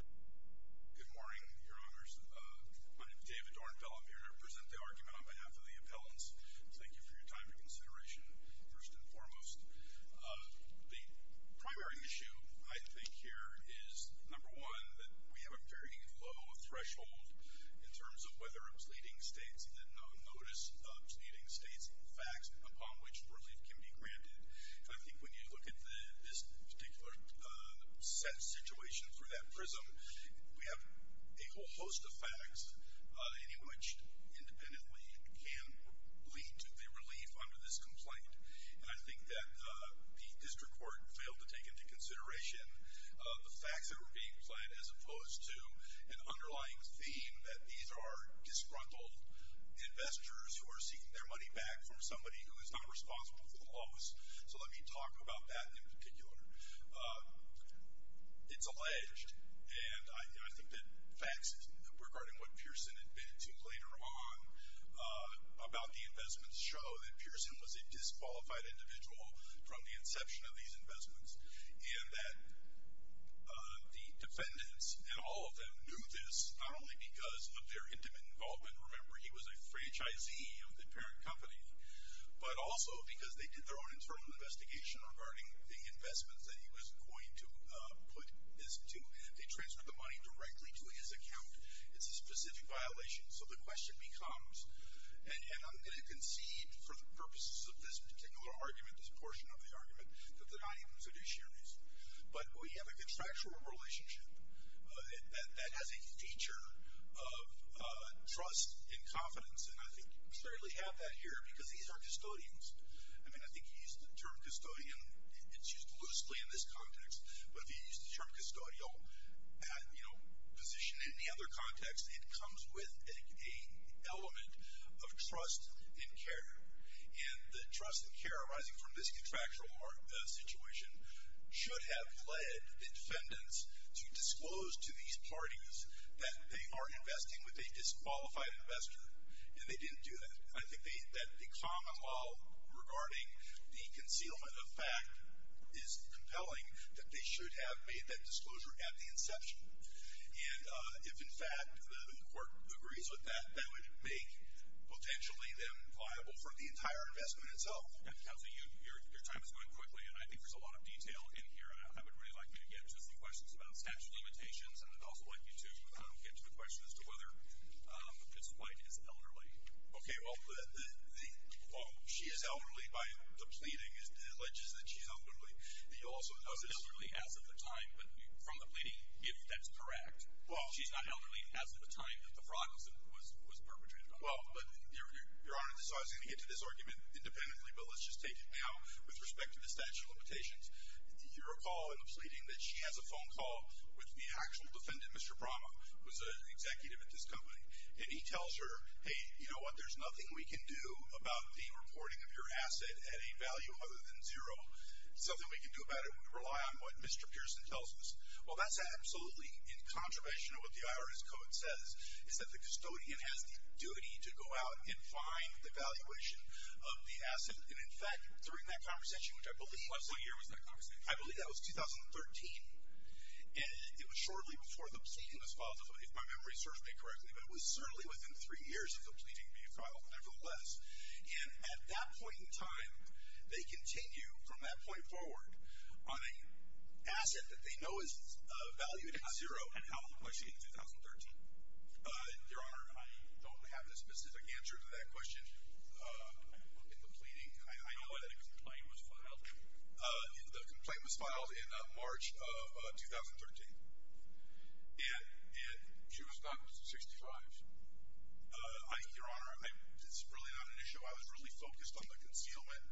Good morning, your honors. My name is David Ornbell. I'm here to present the argument on behalf of the appellants. Thank you for your time and consideration, first and foremost. The primary issue, I think, here is, number one, that we have a very low threshold in terms of whether a pleading state's notice of pleading states facts upon which relief can be granted. And I think when you look at this particular set situation for that prism, we have a whole host of facts, any of which independently can lead to the relief under this complaint. And I think that the district court failed to take into consideration the facts that were being pled as opposed to an underlying theme that these are disgruntled investors who are seeking their money back from somebody who is not responsible for the loss. So let me talk about that in particular. It's alleged, and I think that facts regarding what Pearson admitted to later on about the investments show that Pearson was a disqualified individual from the inception of these investments, and that the defendants and all of them knew this not only because of their intimate involvement. Remember, he was a franchisee of the parent company, but also because they did their own internal investigation regarding the investments that he was going to put this to, and they transferred the money directly to his account. It's a specific violation, so the question becomes, and I'm going to concede for the purposes of this particular argument, this portion of the argument, that they're not even fiduciaries, but we have a contractual relationship that has a feature of trust and confidence, and I think you clearly have that here because these are custodians. I mean, I think he used the term custodian, it's used loosely in this context, but if he used the term custodial position in any other context, it comes with an element of trust and care. And the trust and care arising from this contractual situation should have led the defendants to disclose to these parties that they are investing with a disqualified investor, and they didn't do that. I think that the common law regarding the concealment of fact is compelling, that they should have made that disclosure at the inception, and if in fact the court agrees with that, that would make potentially them liable for the entire investment itself. Counselor, your time is going quickly, and I think there's a lot of detail in here, and I would really like me to get to some questions about statute of limitations, and I'd also like you to get to the question as to whether Mrs. White is elderly. Okay, well, she is elderly by the pleading that alleges that she's elderly. She's not elderly as of the time, but from the pleading, if that's correct. She's not elderly as of the time that the fraud was perpetrated on her. Well, but Your Honor, so I was going to get to this argument independently, but let's just take it now with respect to the statute of limitations. You recall in the pleading that she has a phone call with the actual defendant, Mr. Brahma, who's an executive at this company, and he tells her, hey, you know what, there's nothing we can do about the reporting of your asset at a value other than zero. There's nothing we can do about it. We rely on what Mr. Pearson tells us. Well, that's absolutely incontroversial. What the IRS code says is that the custodian has the duty to go out and find the valuation of the asset. And, in fact, during that conversation, which I believe was 2013, and it was shortly before the pleading was filed, if my memory serves me correctly, but it was certainly within three years of the pleading being filed, nevertheless. And at that point in time, they continue from that point forward on an asset that they know is valued at zero. And how old was she in 2013? Your Honor, I don't have a specific answer to that question in the pleading. I know that a complaint was filed. The complaint was filed in March of 2013. And she was about 65. Your Honor, it's really not an issue. I was really focused on the concealment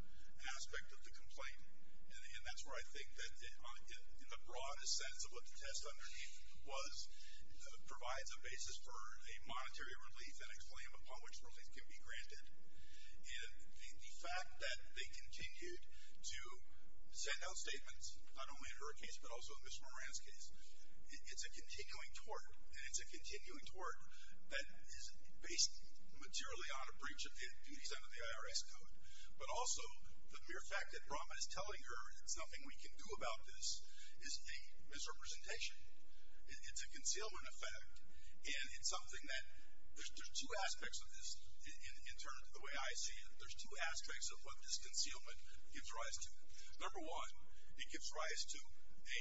aspect of the complaint. And that's where I think that, in the broadest sense of what the test underneath was, provides a basis for a monetary relief and a claim upon which relief can be granted. And the fact that they continued to send out statements, not only in her case, but also in Ms. Moran's case, it's a continuing tort, and it's a continuing tort that is based materially on a breach of duties under the IRS Code. But also, the mere fact that Brahma is telling her that there's nothing we can do about this is a misrepresentation. It's a concealment effect, and it's something that there's two aspects of this. In terms of the way I see it, there's two aspects of what this concealment gives rise to. Number one, it gives rise to a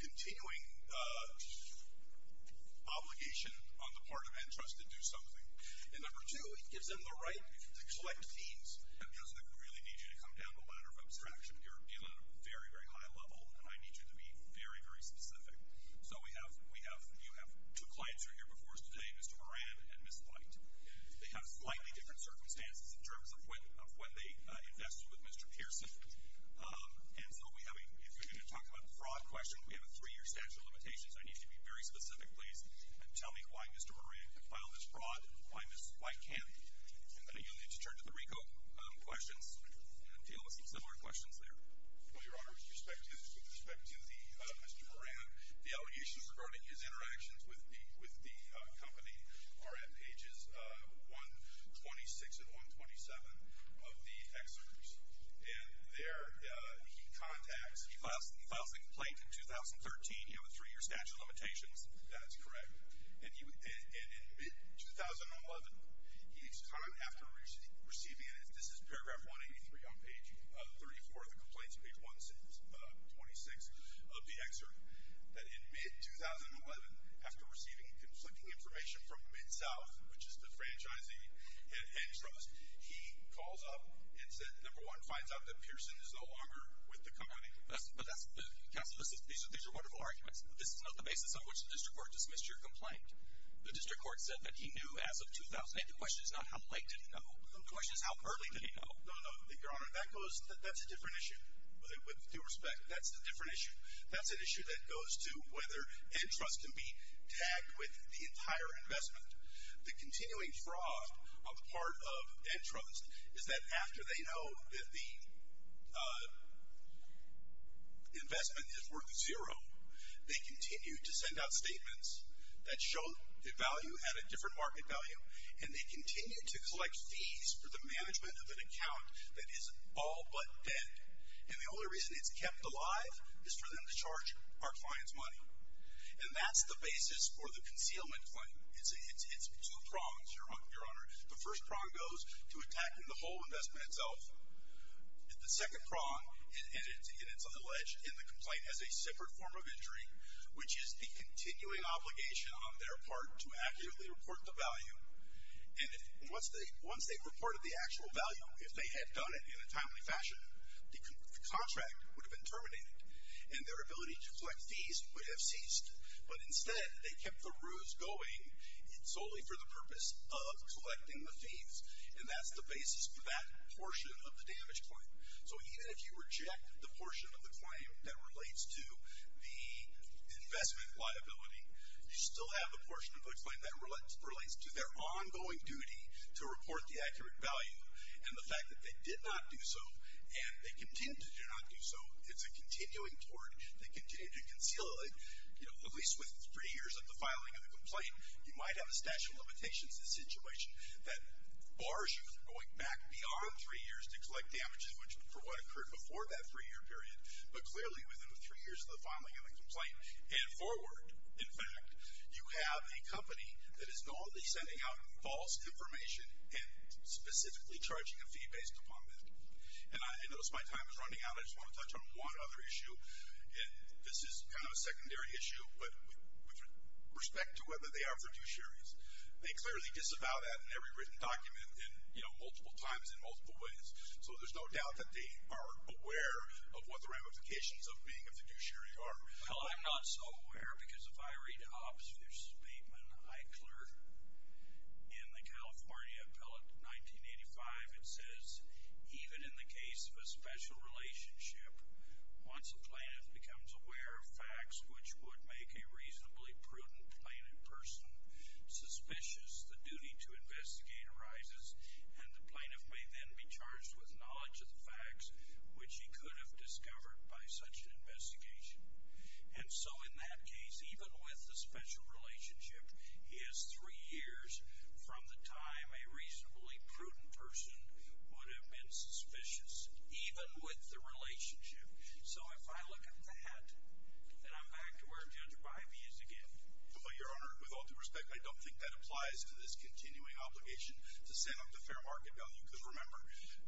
continuing obligation on the part of Antrust to do something. And number two, it gives them the right to collect fees. And it doesn't really need you to come down the ladder of abstraction. You're dealing at a very, very high level, and I need you to be very, very specific. So you have two clients who are here before us today, Mr. Moran and Ms. White. They have slightly different circumstances in terms of when they invested with Mr. Pearson. And so we have a, if you're going to talk about a fraud question, we have a three-year statute of limitations. I need you to be very specific, please, and tell me why Mr. Moran could file this fraud, why Ms. White can't. And then you'll need to turn to the RICO questions and deal with some similar questions there. Well, Your Honor, with respect to Mr. Moran, the allegations regarding his interactions with the company are at pages 126 and 127 of the excerpt. And there he contacts, he files the complaint in 2013, you know, with three-year statute of limitations. That is correct. And in mid-2011, he's found after receiving it, this is paragraph 183 on page 34 of the complaint, page 126 of the excerpt, that in mid-2011, after receiving conflicting information from Mid-South, which is the franchising and trust, he calls up and said, number one, finds out that Pearson is no longer with the company. But that's, Counsel, these are wonderful arguments. This is not the basis on which the district court dismissed your complaint. The district court said that he knew as of 2008. The question is not how late did he know. The question is how early did he know. No, no, Your Honor, that goes, that's a different issue. With due respect, that's a different issue. That's an issue that goes to whether antrust can be tagged with the entire investment. The continuing fraud of part of antrust is that after they know that the investment is worth zero, they continue to send out statements that show the value at a different market value, and they continue to collect fees for the management of an account that is all but dead. And the only reason it's kept alive is for them to charge our clients money. And that's the basis for the concealment claim. It's two prongs, Your Honor. The first prong goes to attacking the whole investment itself. The second prong, and it's on the ledge in the complaint, has a separate form of injury, which is the continuing obligation on their part to accurately report the value. And once they've reported the actual value, if they had done it in a timely fashion, the contract would have been terminated, and their ability to collect fees would have ceased. But instead, they kept the ruse going solely for the purpose of collecting the fees, and that's the basis for that portion of the damage claim. So even if you reject the portion of the claim that relates to the investment liability, you still have a portion of the claim that relates to their ongoing duty to report the accurate value. And the fact that they did not do so, and they continue to do not do so, it's a continuing tort, they continue to conceal it. At least within three years of the filing of the complaint, you might have a statute of limitations in the situation that bars you from going back beyond three years to collect damages for what occurred before that three-year period. But clearly, within the three years of the filing of the complaint and forward, in fact, you have a company that is normally sending out false information and specifically charging a fee based upon that. And I notice my time is running out. I just want to touch on one other issue, and this is kind of a secondary issue, but with respect to whether they are fiduciaries. They clearly disavow that in every written document and, you know, multiple times in multiple ways. So there's no doubt that they are aware of what the ramifications of being a fiduciary are. Well, I'm not so aware because if I read the opposite of your statement, I cleared in the California Appellate 1985, it says, even in the case of a special relationship, once a plaintiff becomes aware of facts which would make a reasonably prudent plaintiff person suspicious, the duty to investigate arises, and the plaintiff may then be charged with knowledge of the facts which he could have discovered by such an investigation. And so in that case, even with the special relationship, he has three years from the time a reasonably prudent person would have been suspicious, even with the relationship. So if I look at that, then I'm back to where Judge Bivey is again. Well, Your Honor, with all due respect, I don't think that applies to this continuing obligation to send them to fair market value because remember,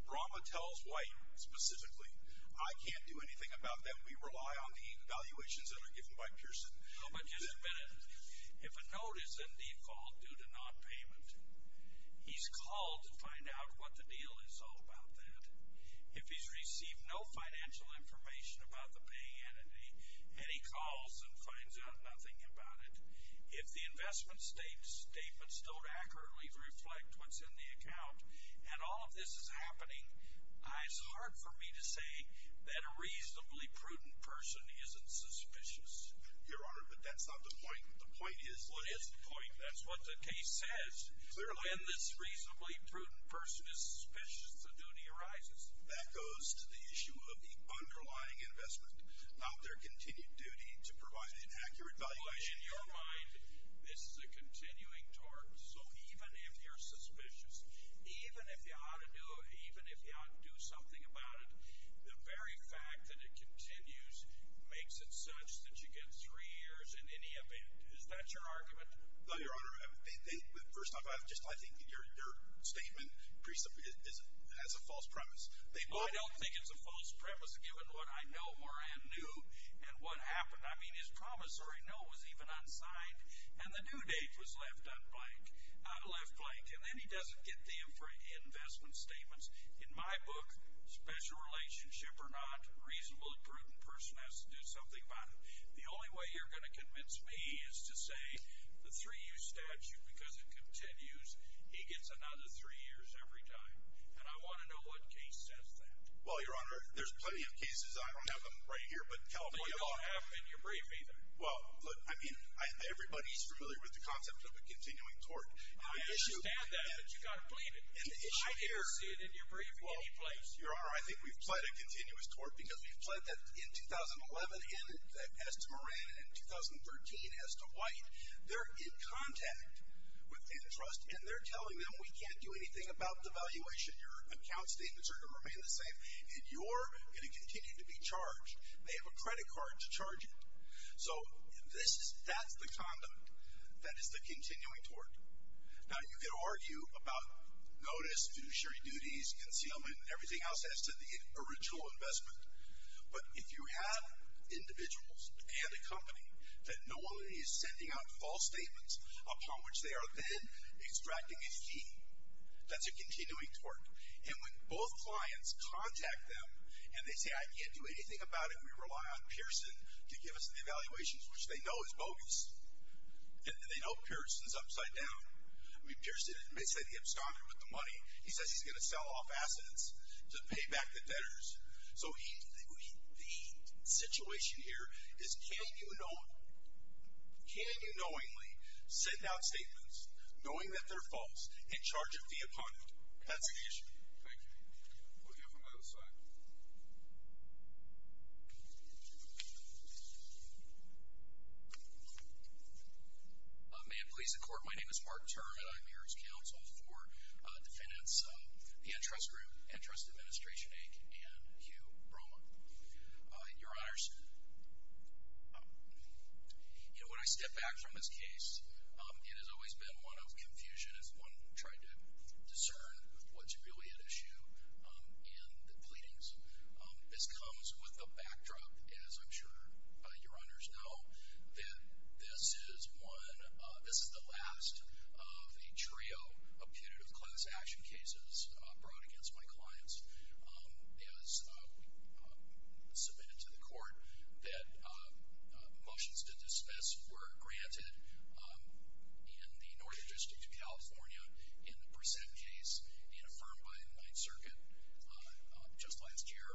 Brahma tells White specifically, I can't do anything about them. We rely on the valuations that are given by Pearson. Oh, but just a minute. If a note is in default due to nonpayment, he's called to find out what the deal is all about that. If he's received no financial information about the paying entity, and he calls and finds out nothing about it, if the investment statements don't accurately reflect what's in the account, and all of this is happening, it's hard for me to say that a reasonably prudent person isn't suspicious. Your Honor, but that's not the point. The point is what is the point. That's what the case says. When this reasonably prudent person is suspicious, the duty arises. That goes to the issue of the underlying investment, not their continued duty to provide an accurate valuation. Well, in your mind, this is a continuing tort. So even if you're suspicious, even if you ought to do something about it, the very fact that it continues makes it such that you get three years in any event. Is that your argument? No, Your Honor. First off, I think your statement pretty simply has a false premise. I don't think it's a false premise, given what I know or I knew and what happened. I mean, his promissory note was even unsigned, and the due date was left blank. And then he doesn't get the investment statements. In my book, special relationship or not, a reasonably prudent person has to do something about it. The only way you're going to convince me is to say the three-year statute, because it continues, he gets another three years every time. And I want to know what case says that. Well, Your Honor, there's plenty of cases. I don't have them right here, but California law. You don't have them in your brief either. Well, look, I mean, everybody's familiar with the concept of a continuing tort. I understand that, but you've got to believe it. I didn't see it in your brief in any place. Your Honor, I think we've pled a continuous tort because we've pled that in 2011 as to Moran and in 2013 as to White. They're in contact with antitrust, and they're telling them we can't do anything about the valuation. Your account statements are going to remain the same, and you're going to continue to be charged. They have a credit card to charge it. So that's the conduct that is the continuing tort. Now, you could argue about notice, fiduciary duties, concealment, and everything else as to the original investment. But if you have individuals and a company that normally is sending out false statements upon which they are then extracting a fee, that's a continuing tort. And when both clients contact them and they say, I can't do anything about it, we rely on Pearson to give us the evaluations, which they know is bogus. And they know Pearson is upside down. I mean, Pearson, they said he abstonded with the money. He says he's going to sell off assets to pay back the debtors. So the situation here is can you knowingly send out statements knowing that they're false and charge a fee upon it? That's the issue. Thank you. We have one by the side. May it please the Court. My name is Mark Turner, and I'm here as counsel for defendants, the Entrust Group, Entrust Administration, Inc., and Hugh Broma. Your Honors, you know, when I step back from this case, it has always been one of confusion as one tried to discern what's really at issue in the pleadings. This comes with the backdrop, as I'm sure your Honors know, that this is the last of a trio of punitive class action cases brought against my clients. It was submitted to the Court that motions to dismiss were granted in the Northern District of California in the Brissett case being affirmed by the Ninth Circuit just last year.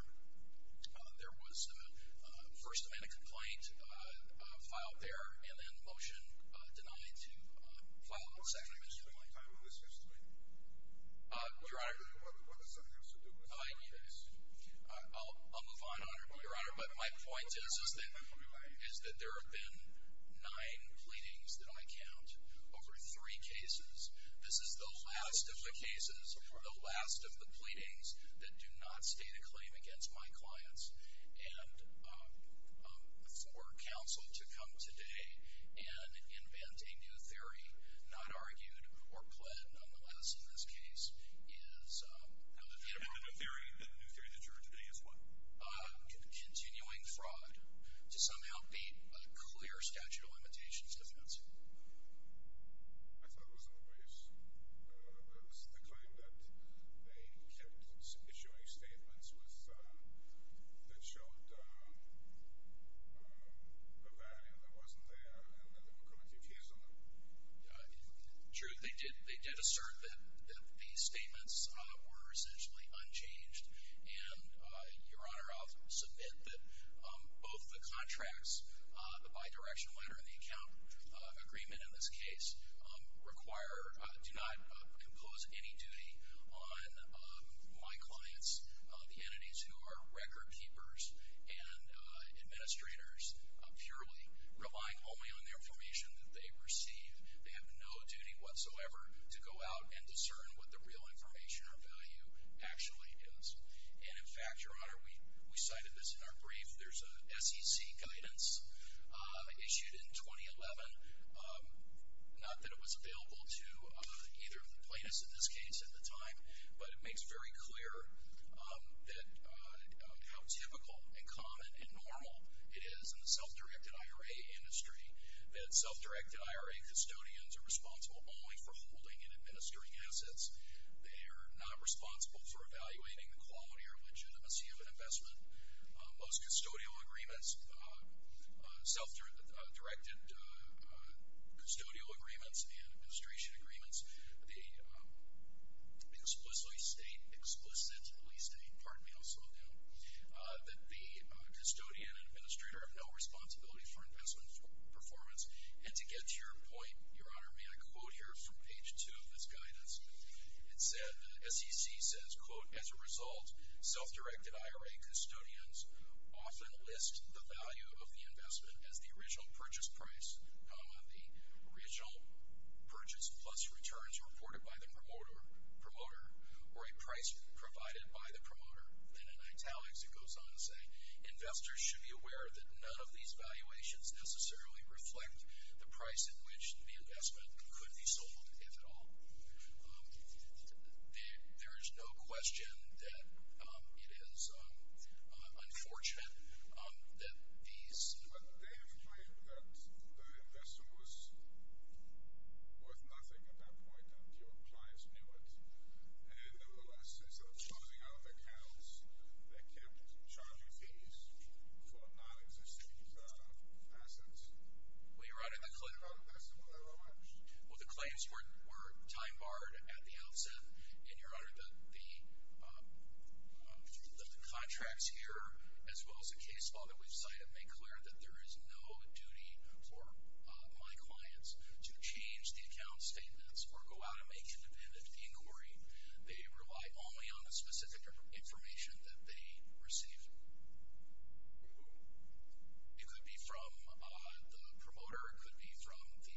There was a First Amendment complaint filed there and then a motion denied to file a Second Amendment complaint. What's the name of this complaint? Your Honor. What does that have to do with this case? I'll move on, Your Honor. But my point is that there have been nine pleadings that I count over three cases. This is the last of the cases or the last of the pleadings that do not state a claim against my clients. And for counsel to come today and invent a new theory, not argued or pled nonetheless in this case, is how to get rid of it. And the new theory that you're today is what? Continuing fraud to somehow beat a clear statute of limitations defense. I thought it was in the briefs. It was the claim that they kept issuing statements that showed a value that wasn't there and then they were committed to using them. True. They did assert that these statements were essentially unchanged. And, Your Honor, I'll submit that both the contracts, the bidirection letter and the account agreement in this case, do not impose any duty on my clients, the entities who are record keepers and administrators, purely relying only on the information that they receive. They have no duty whatsoever to go out and discern what the real information or value actually is. And, in fact, Your Honor, we cited this in our brief. There's a SEC guidance issued in 2011, not that it was available to either of the plaintiffs in this case at the time, but it makes very clear how typical and common and normal it is in the self-directed IRA industry that self-directed IRA custodians are responsible only for holding and administering assets. They are not responsible for evaluating the quality or legitimacy of an investment. Most custodial agreements, self-directed custodial agreements and administration agreements, they explicitly state, explicit at least, pardon me, I'll slow down, that the custodian and administrator have no responsibility for investment performance. And to get to your point, Your Honor, may I quote here from page two of this guidance? It said, the SEC says, quote, As a result, self-directed IRA custodians often list the value of the investment as the original purchase price, the original purchase plus returns reported by the promoter or a price provided by the promoter. And in italics it goes on to say, Investors should be aware that none of these valuations necessarily reflect the price at which the investment could be sold, if at all. There is no question that it is unfortunate that these But they have claimed that the investment was worth nothing at that point, that your clients knew it. And there were lessons of closing off accounts that kept charging fees for non-existing assets. Well, Your Honor, the claims were time barred at the outset. And, Your Honor, the contracts here, as well as the case law that we've cited, make clear that there is no duty for my clients to change the account statements or go out and make independent inquiry. They rely only on the specific information that they receive. It could be from the promoter, it could be from the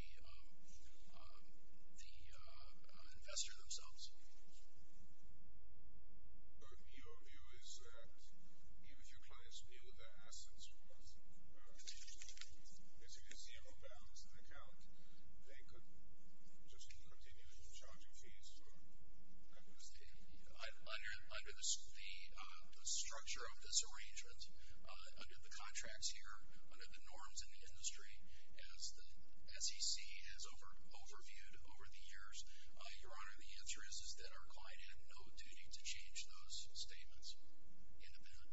investor themselves. But your view is that even if your clients knew their assets were worth, as you can see on the balance of the account, they could just continue charging fees for non-existing assets. Under the structure of this arrangement, under the contracts here, under the norms in the industry, as the SEC has overviewed over the years, Your Honor, the answer is that our client had no duty to change those statements independently.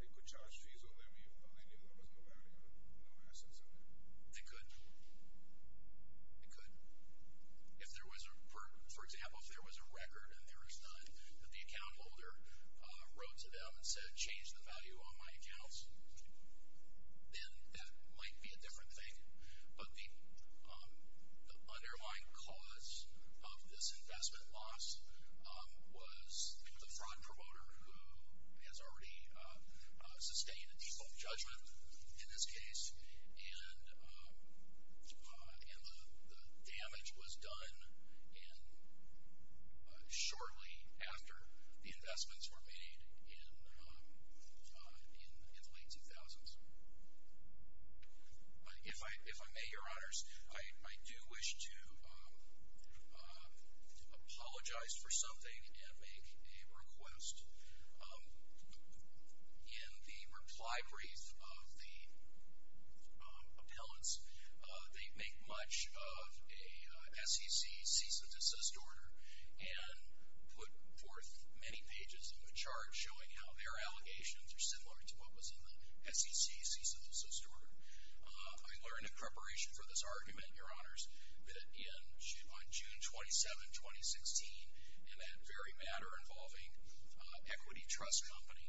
They could charge fees on them even though they knew there was no value or no assets in there? They could. They could. For example, if there was a record and there was none, but the account holder wrote to them and said, change the value on my accounts, then that might be a different thing. But the underlying cause of this investment loss was the fraud promoter, who has already sustained a default judgment in this case. And the damage was done shortly after the investments were made in the late 2000s. If I may, Your Honors, I do wish to apologize for something and make a request. In the reply brief of the appellants, they make much of a SEC cease and desist order and put forth many pages in the chart showing how their allegations are similar to what was in the SEC cease and desist order. I learned in preparation for this argument, Your Honors, that on June 27, 2016, in that very matter involving Equity Trust Company,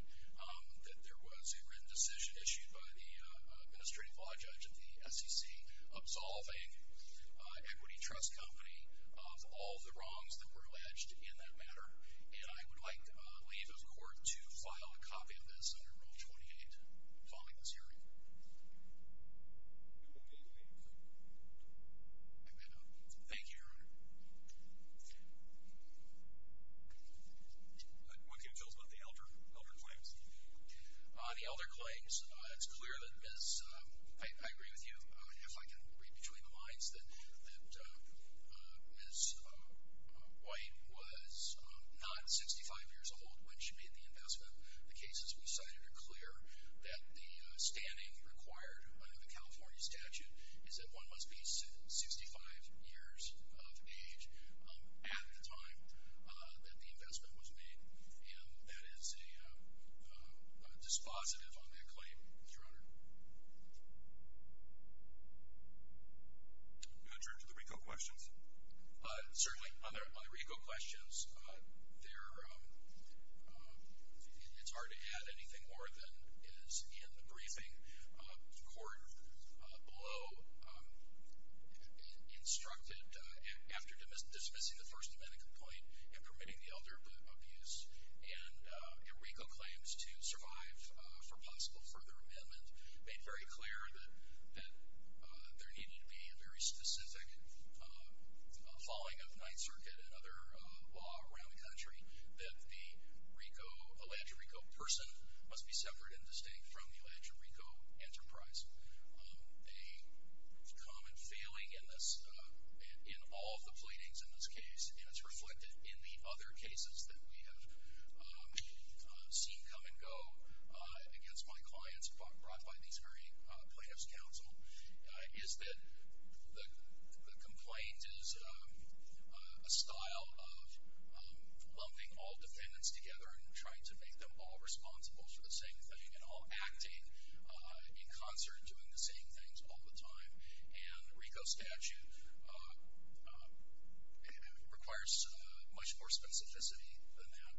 that there was a written decision issued by the Administrative Law Judge of the SEC absolving Equity Trust Company of all the wrongs that were alleged in that matter. And I would like to leave the Court to file a copy of this under Rule 28 following this hearing. Thank you, Your Honor. What can you tell us about the elder claims? The elder claims. It's clear that Ms. – I agree with you. If I can read between the lines that Ms. White was not 65 years old when she made the investment. The cases we cited are clear that the standing required under the California statute is that one must be 65 years of age at the time that the investment was made. And that is dispositive on that claim, Your Honor. Do I turn to the RICO questions? Certainly. On the RICO questions, it's hard to add anything more than is in the briefing. The Court below instructed, after dismissing the First Amendment complaint and permitting the elder abuse and RICO claims to survive for possible further amendment, made very clear that there needed to be a very specific following of Ninth Circuit and other law around the country, that the RICO, Alleged RICO person must be separate and distinct from the Alleged RICO enterprise. A common failing in this, in all of the pleadings in this case, and it's reflected in the other cases that we have seen come and go against my clients brought by these very plaintiffs' counsel, is that the complaint is a style of lumping all defendants together and trying to make them all responsible for the same thing and all acting in concert doing the same things all the time. And the RICO statute requires much more specificity than that.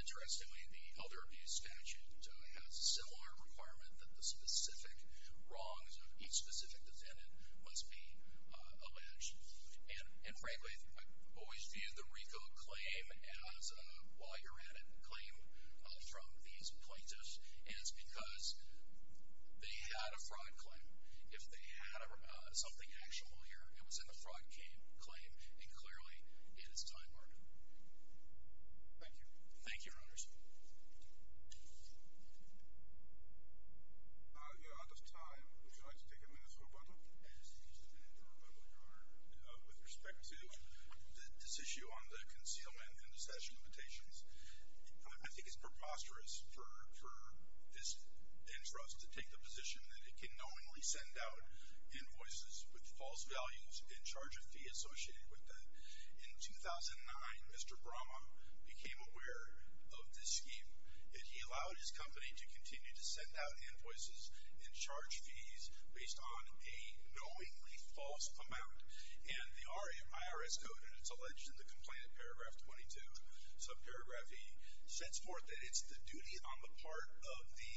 Interestingly, the elder abuse statute has a similar requirement that the specific wrongs of each specific defendant must be alleged. And frankly, I've always viewed the RICO claim as a while-you're-at-it claim from these plaintiffs, and it's because they had a fraud claim. If they had something actual here, it was in the fraud claim, and clearly it is time-murder. Thank you. Thank you, Your Honors. We are out of time. Would you like to take a minute or a couple? With respect to this issue on the concealment and the statutory limitations, I think it's preposterous for this interest to take the position that it can knowingly send out invoices with false values in charge of fee associated with them. In 2009, Mr. Brahma became aware of this scheme, and he allowed his company to continue to send out invoices and charge fees based on a knowingly false amount. And the IRS code, and it's alleged in the complaint, paragraph 22, subparagraph E, sets forth that it's the duty on the part of the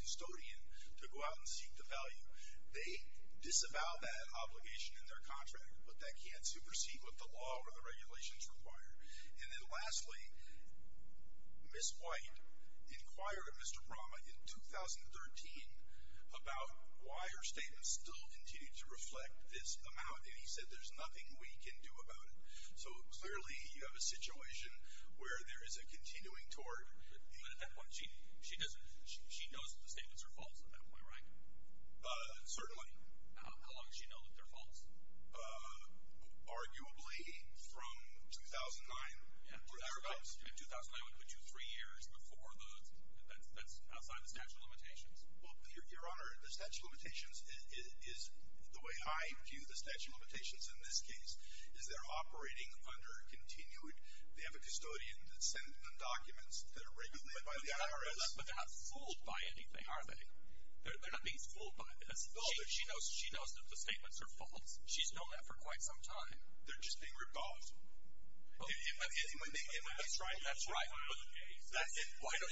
custodian to go out and seek the value. They disavow that obligation in their contract, but that can't supersede what the law or the regulations require. And then lastly, Ms. White inquired of Mr. Brahma in 2013 about why her statement still continued to reflect this amount, and he said there's nothing we can do about it. So clearly you have a situation where there is a continuing toward. But at that point, she knows that the statements are false at that point, right? Certainly. How long does she know that they're false? Arguably from 2009 or thereabouts. And 2009 would put you three years outside the statute of limitations. Well, Your Honor, the statute of limitations is the way I view the statute of limitations in this case is they're operating under continued. They have a custodian that sends them documents that are regulated by the IRS. But they're not fooled by anything, are they? They're not being fooled by it. She knows that the statements are false. She's known that for quite some time. They're just being ripped off. That's right.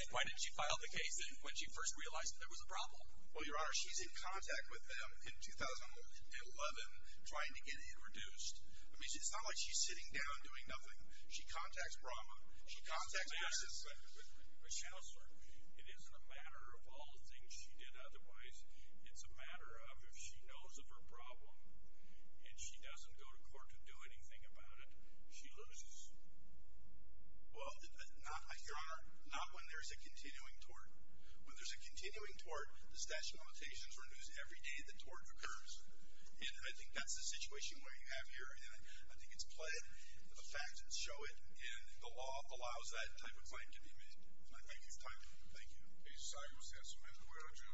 Why didn't she file the case when she first realized that there was a problem? Well, Your Honor, she's in contact with them in 2011 trying to get it reduced. I mean, it's not like she's sitting down doing nothing. She contacts Brahma. She contacts Mrs. Schauser. It isn't a matter of all the things she did otherwise. It's a matter of if she knows of her problem and she doesn't go to court to do anything about it, she loses. Well, Your Honor, not when there's a continuing tort. When there's a continuing tort, the statute of limitations renews every day the tort occurs. And I think that's the situation where you have here. And I think it's played. The facts show it. And the law allows that type of claim to be made. And I thank you for time. Thank you. A silence has been ordered.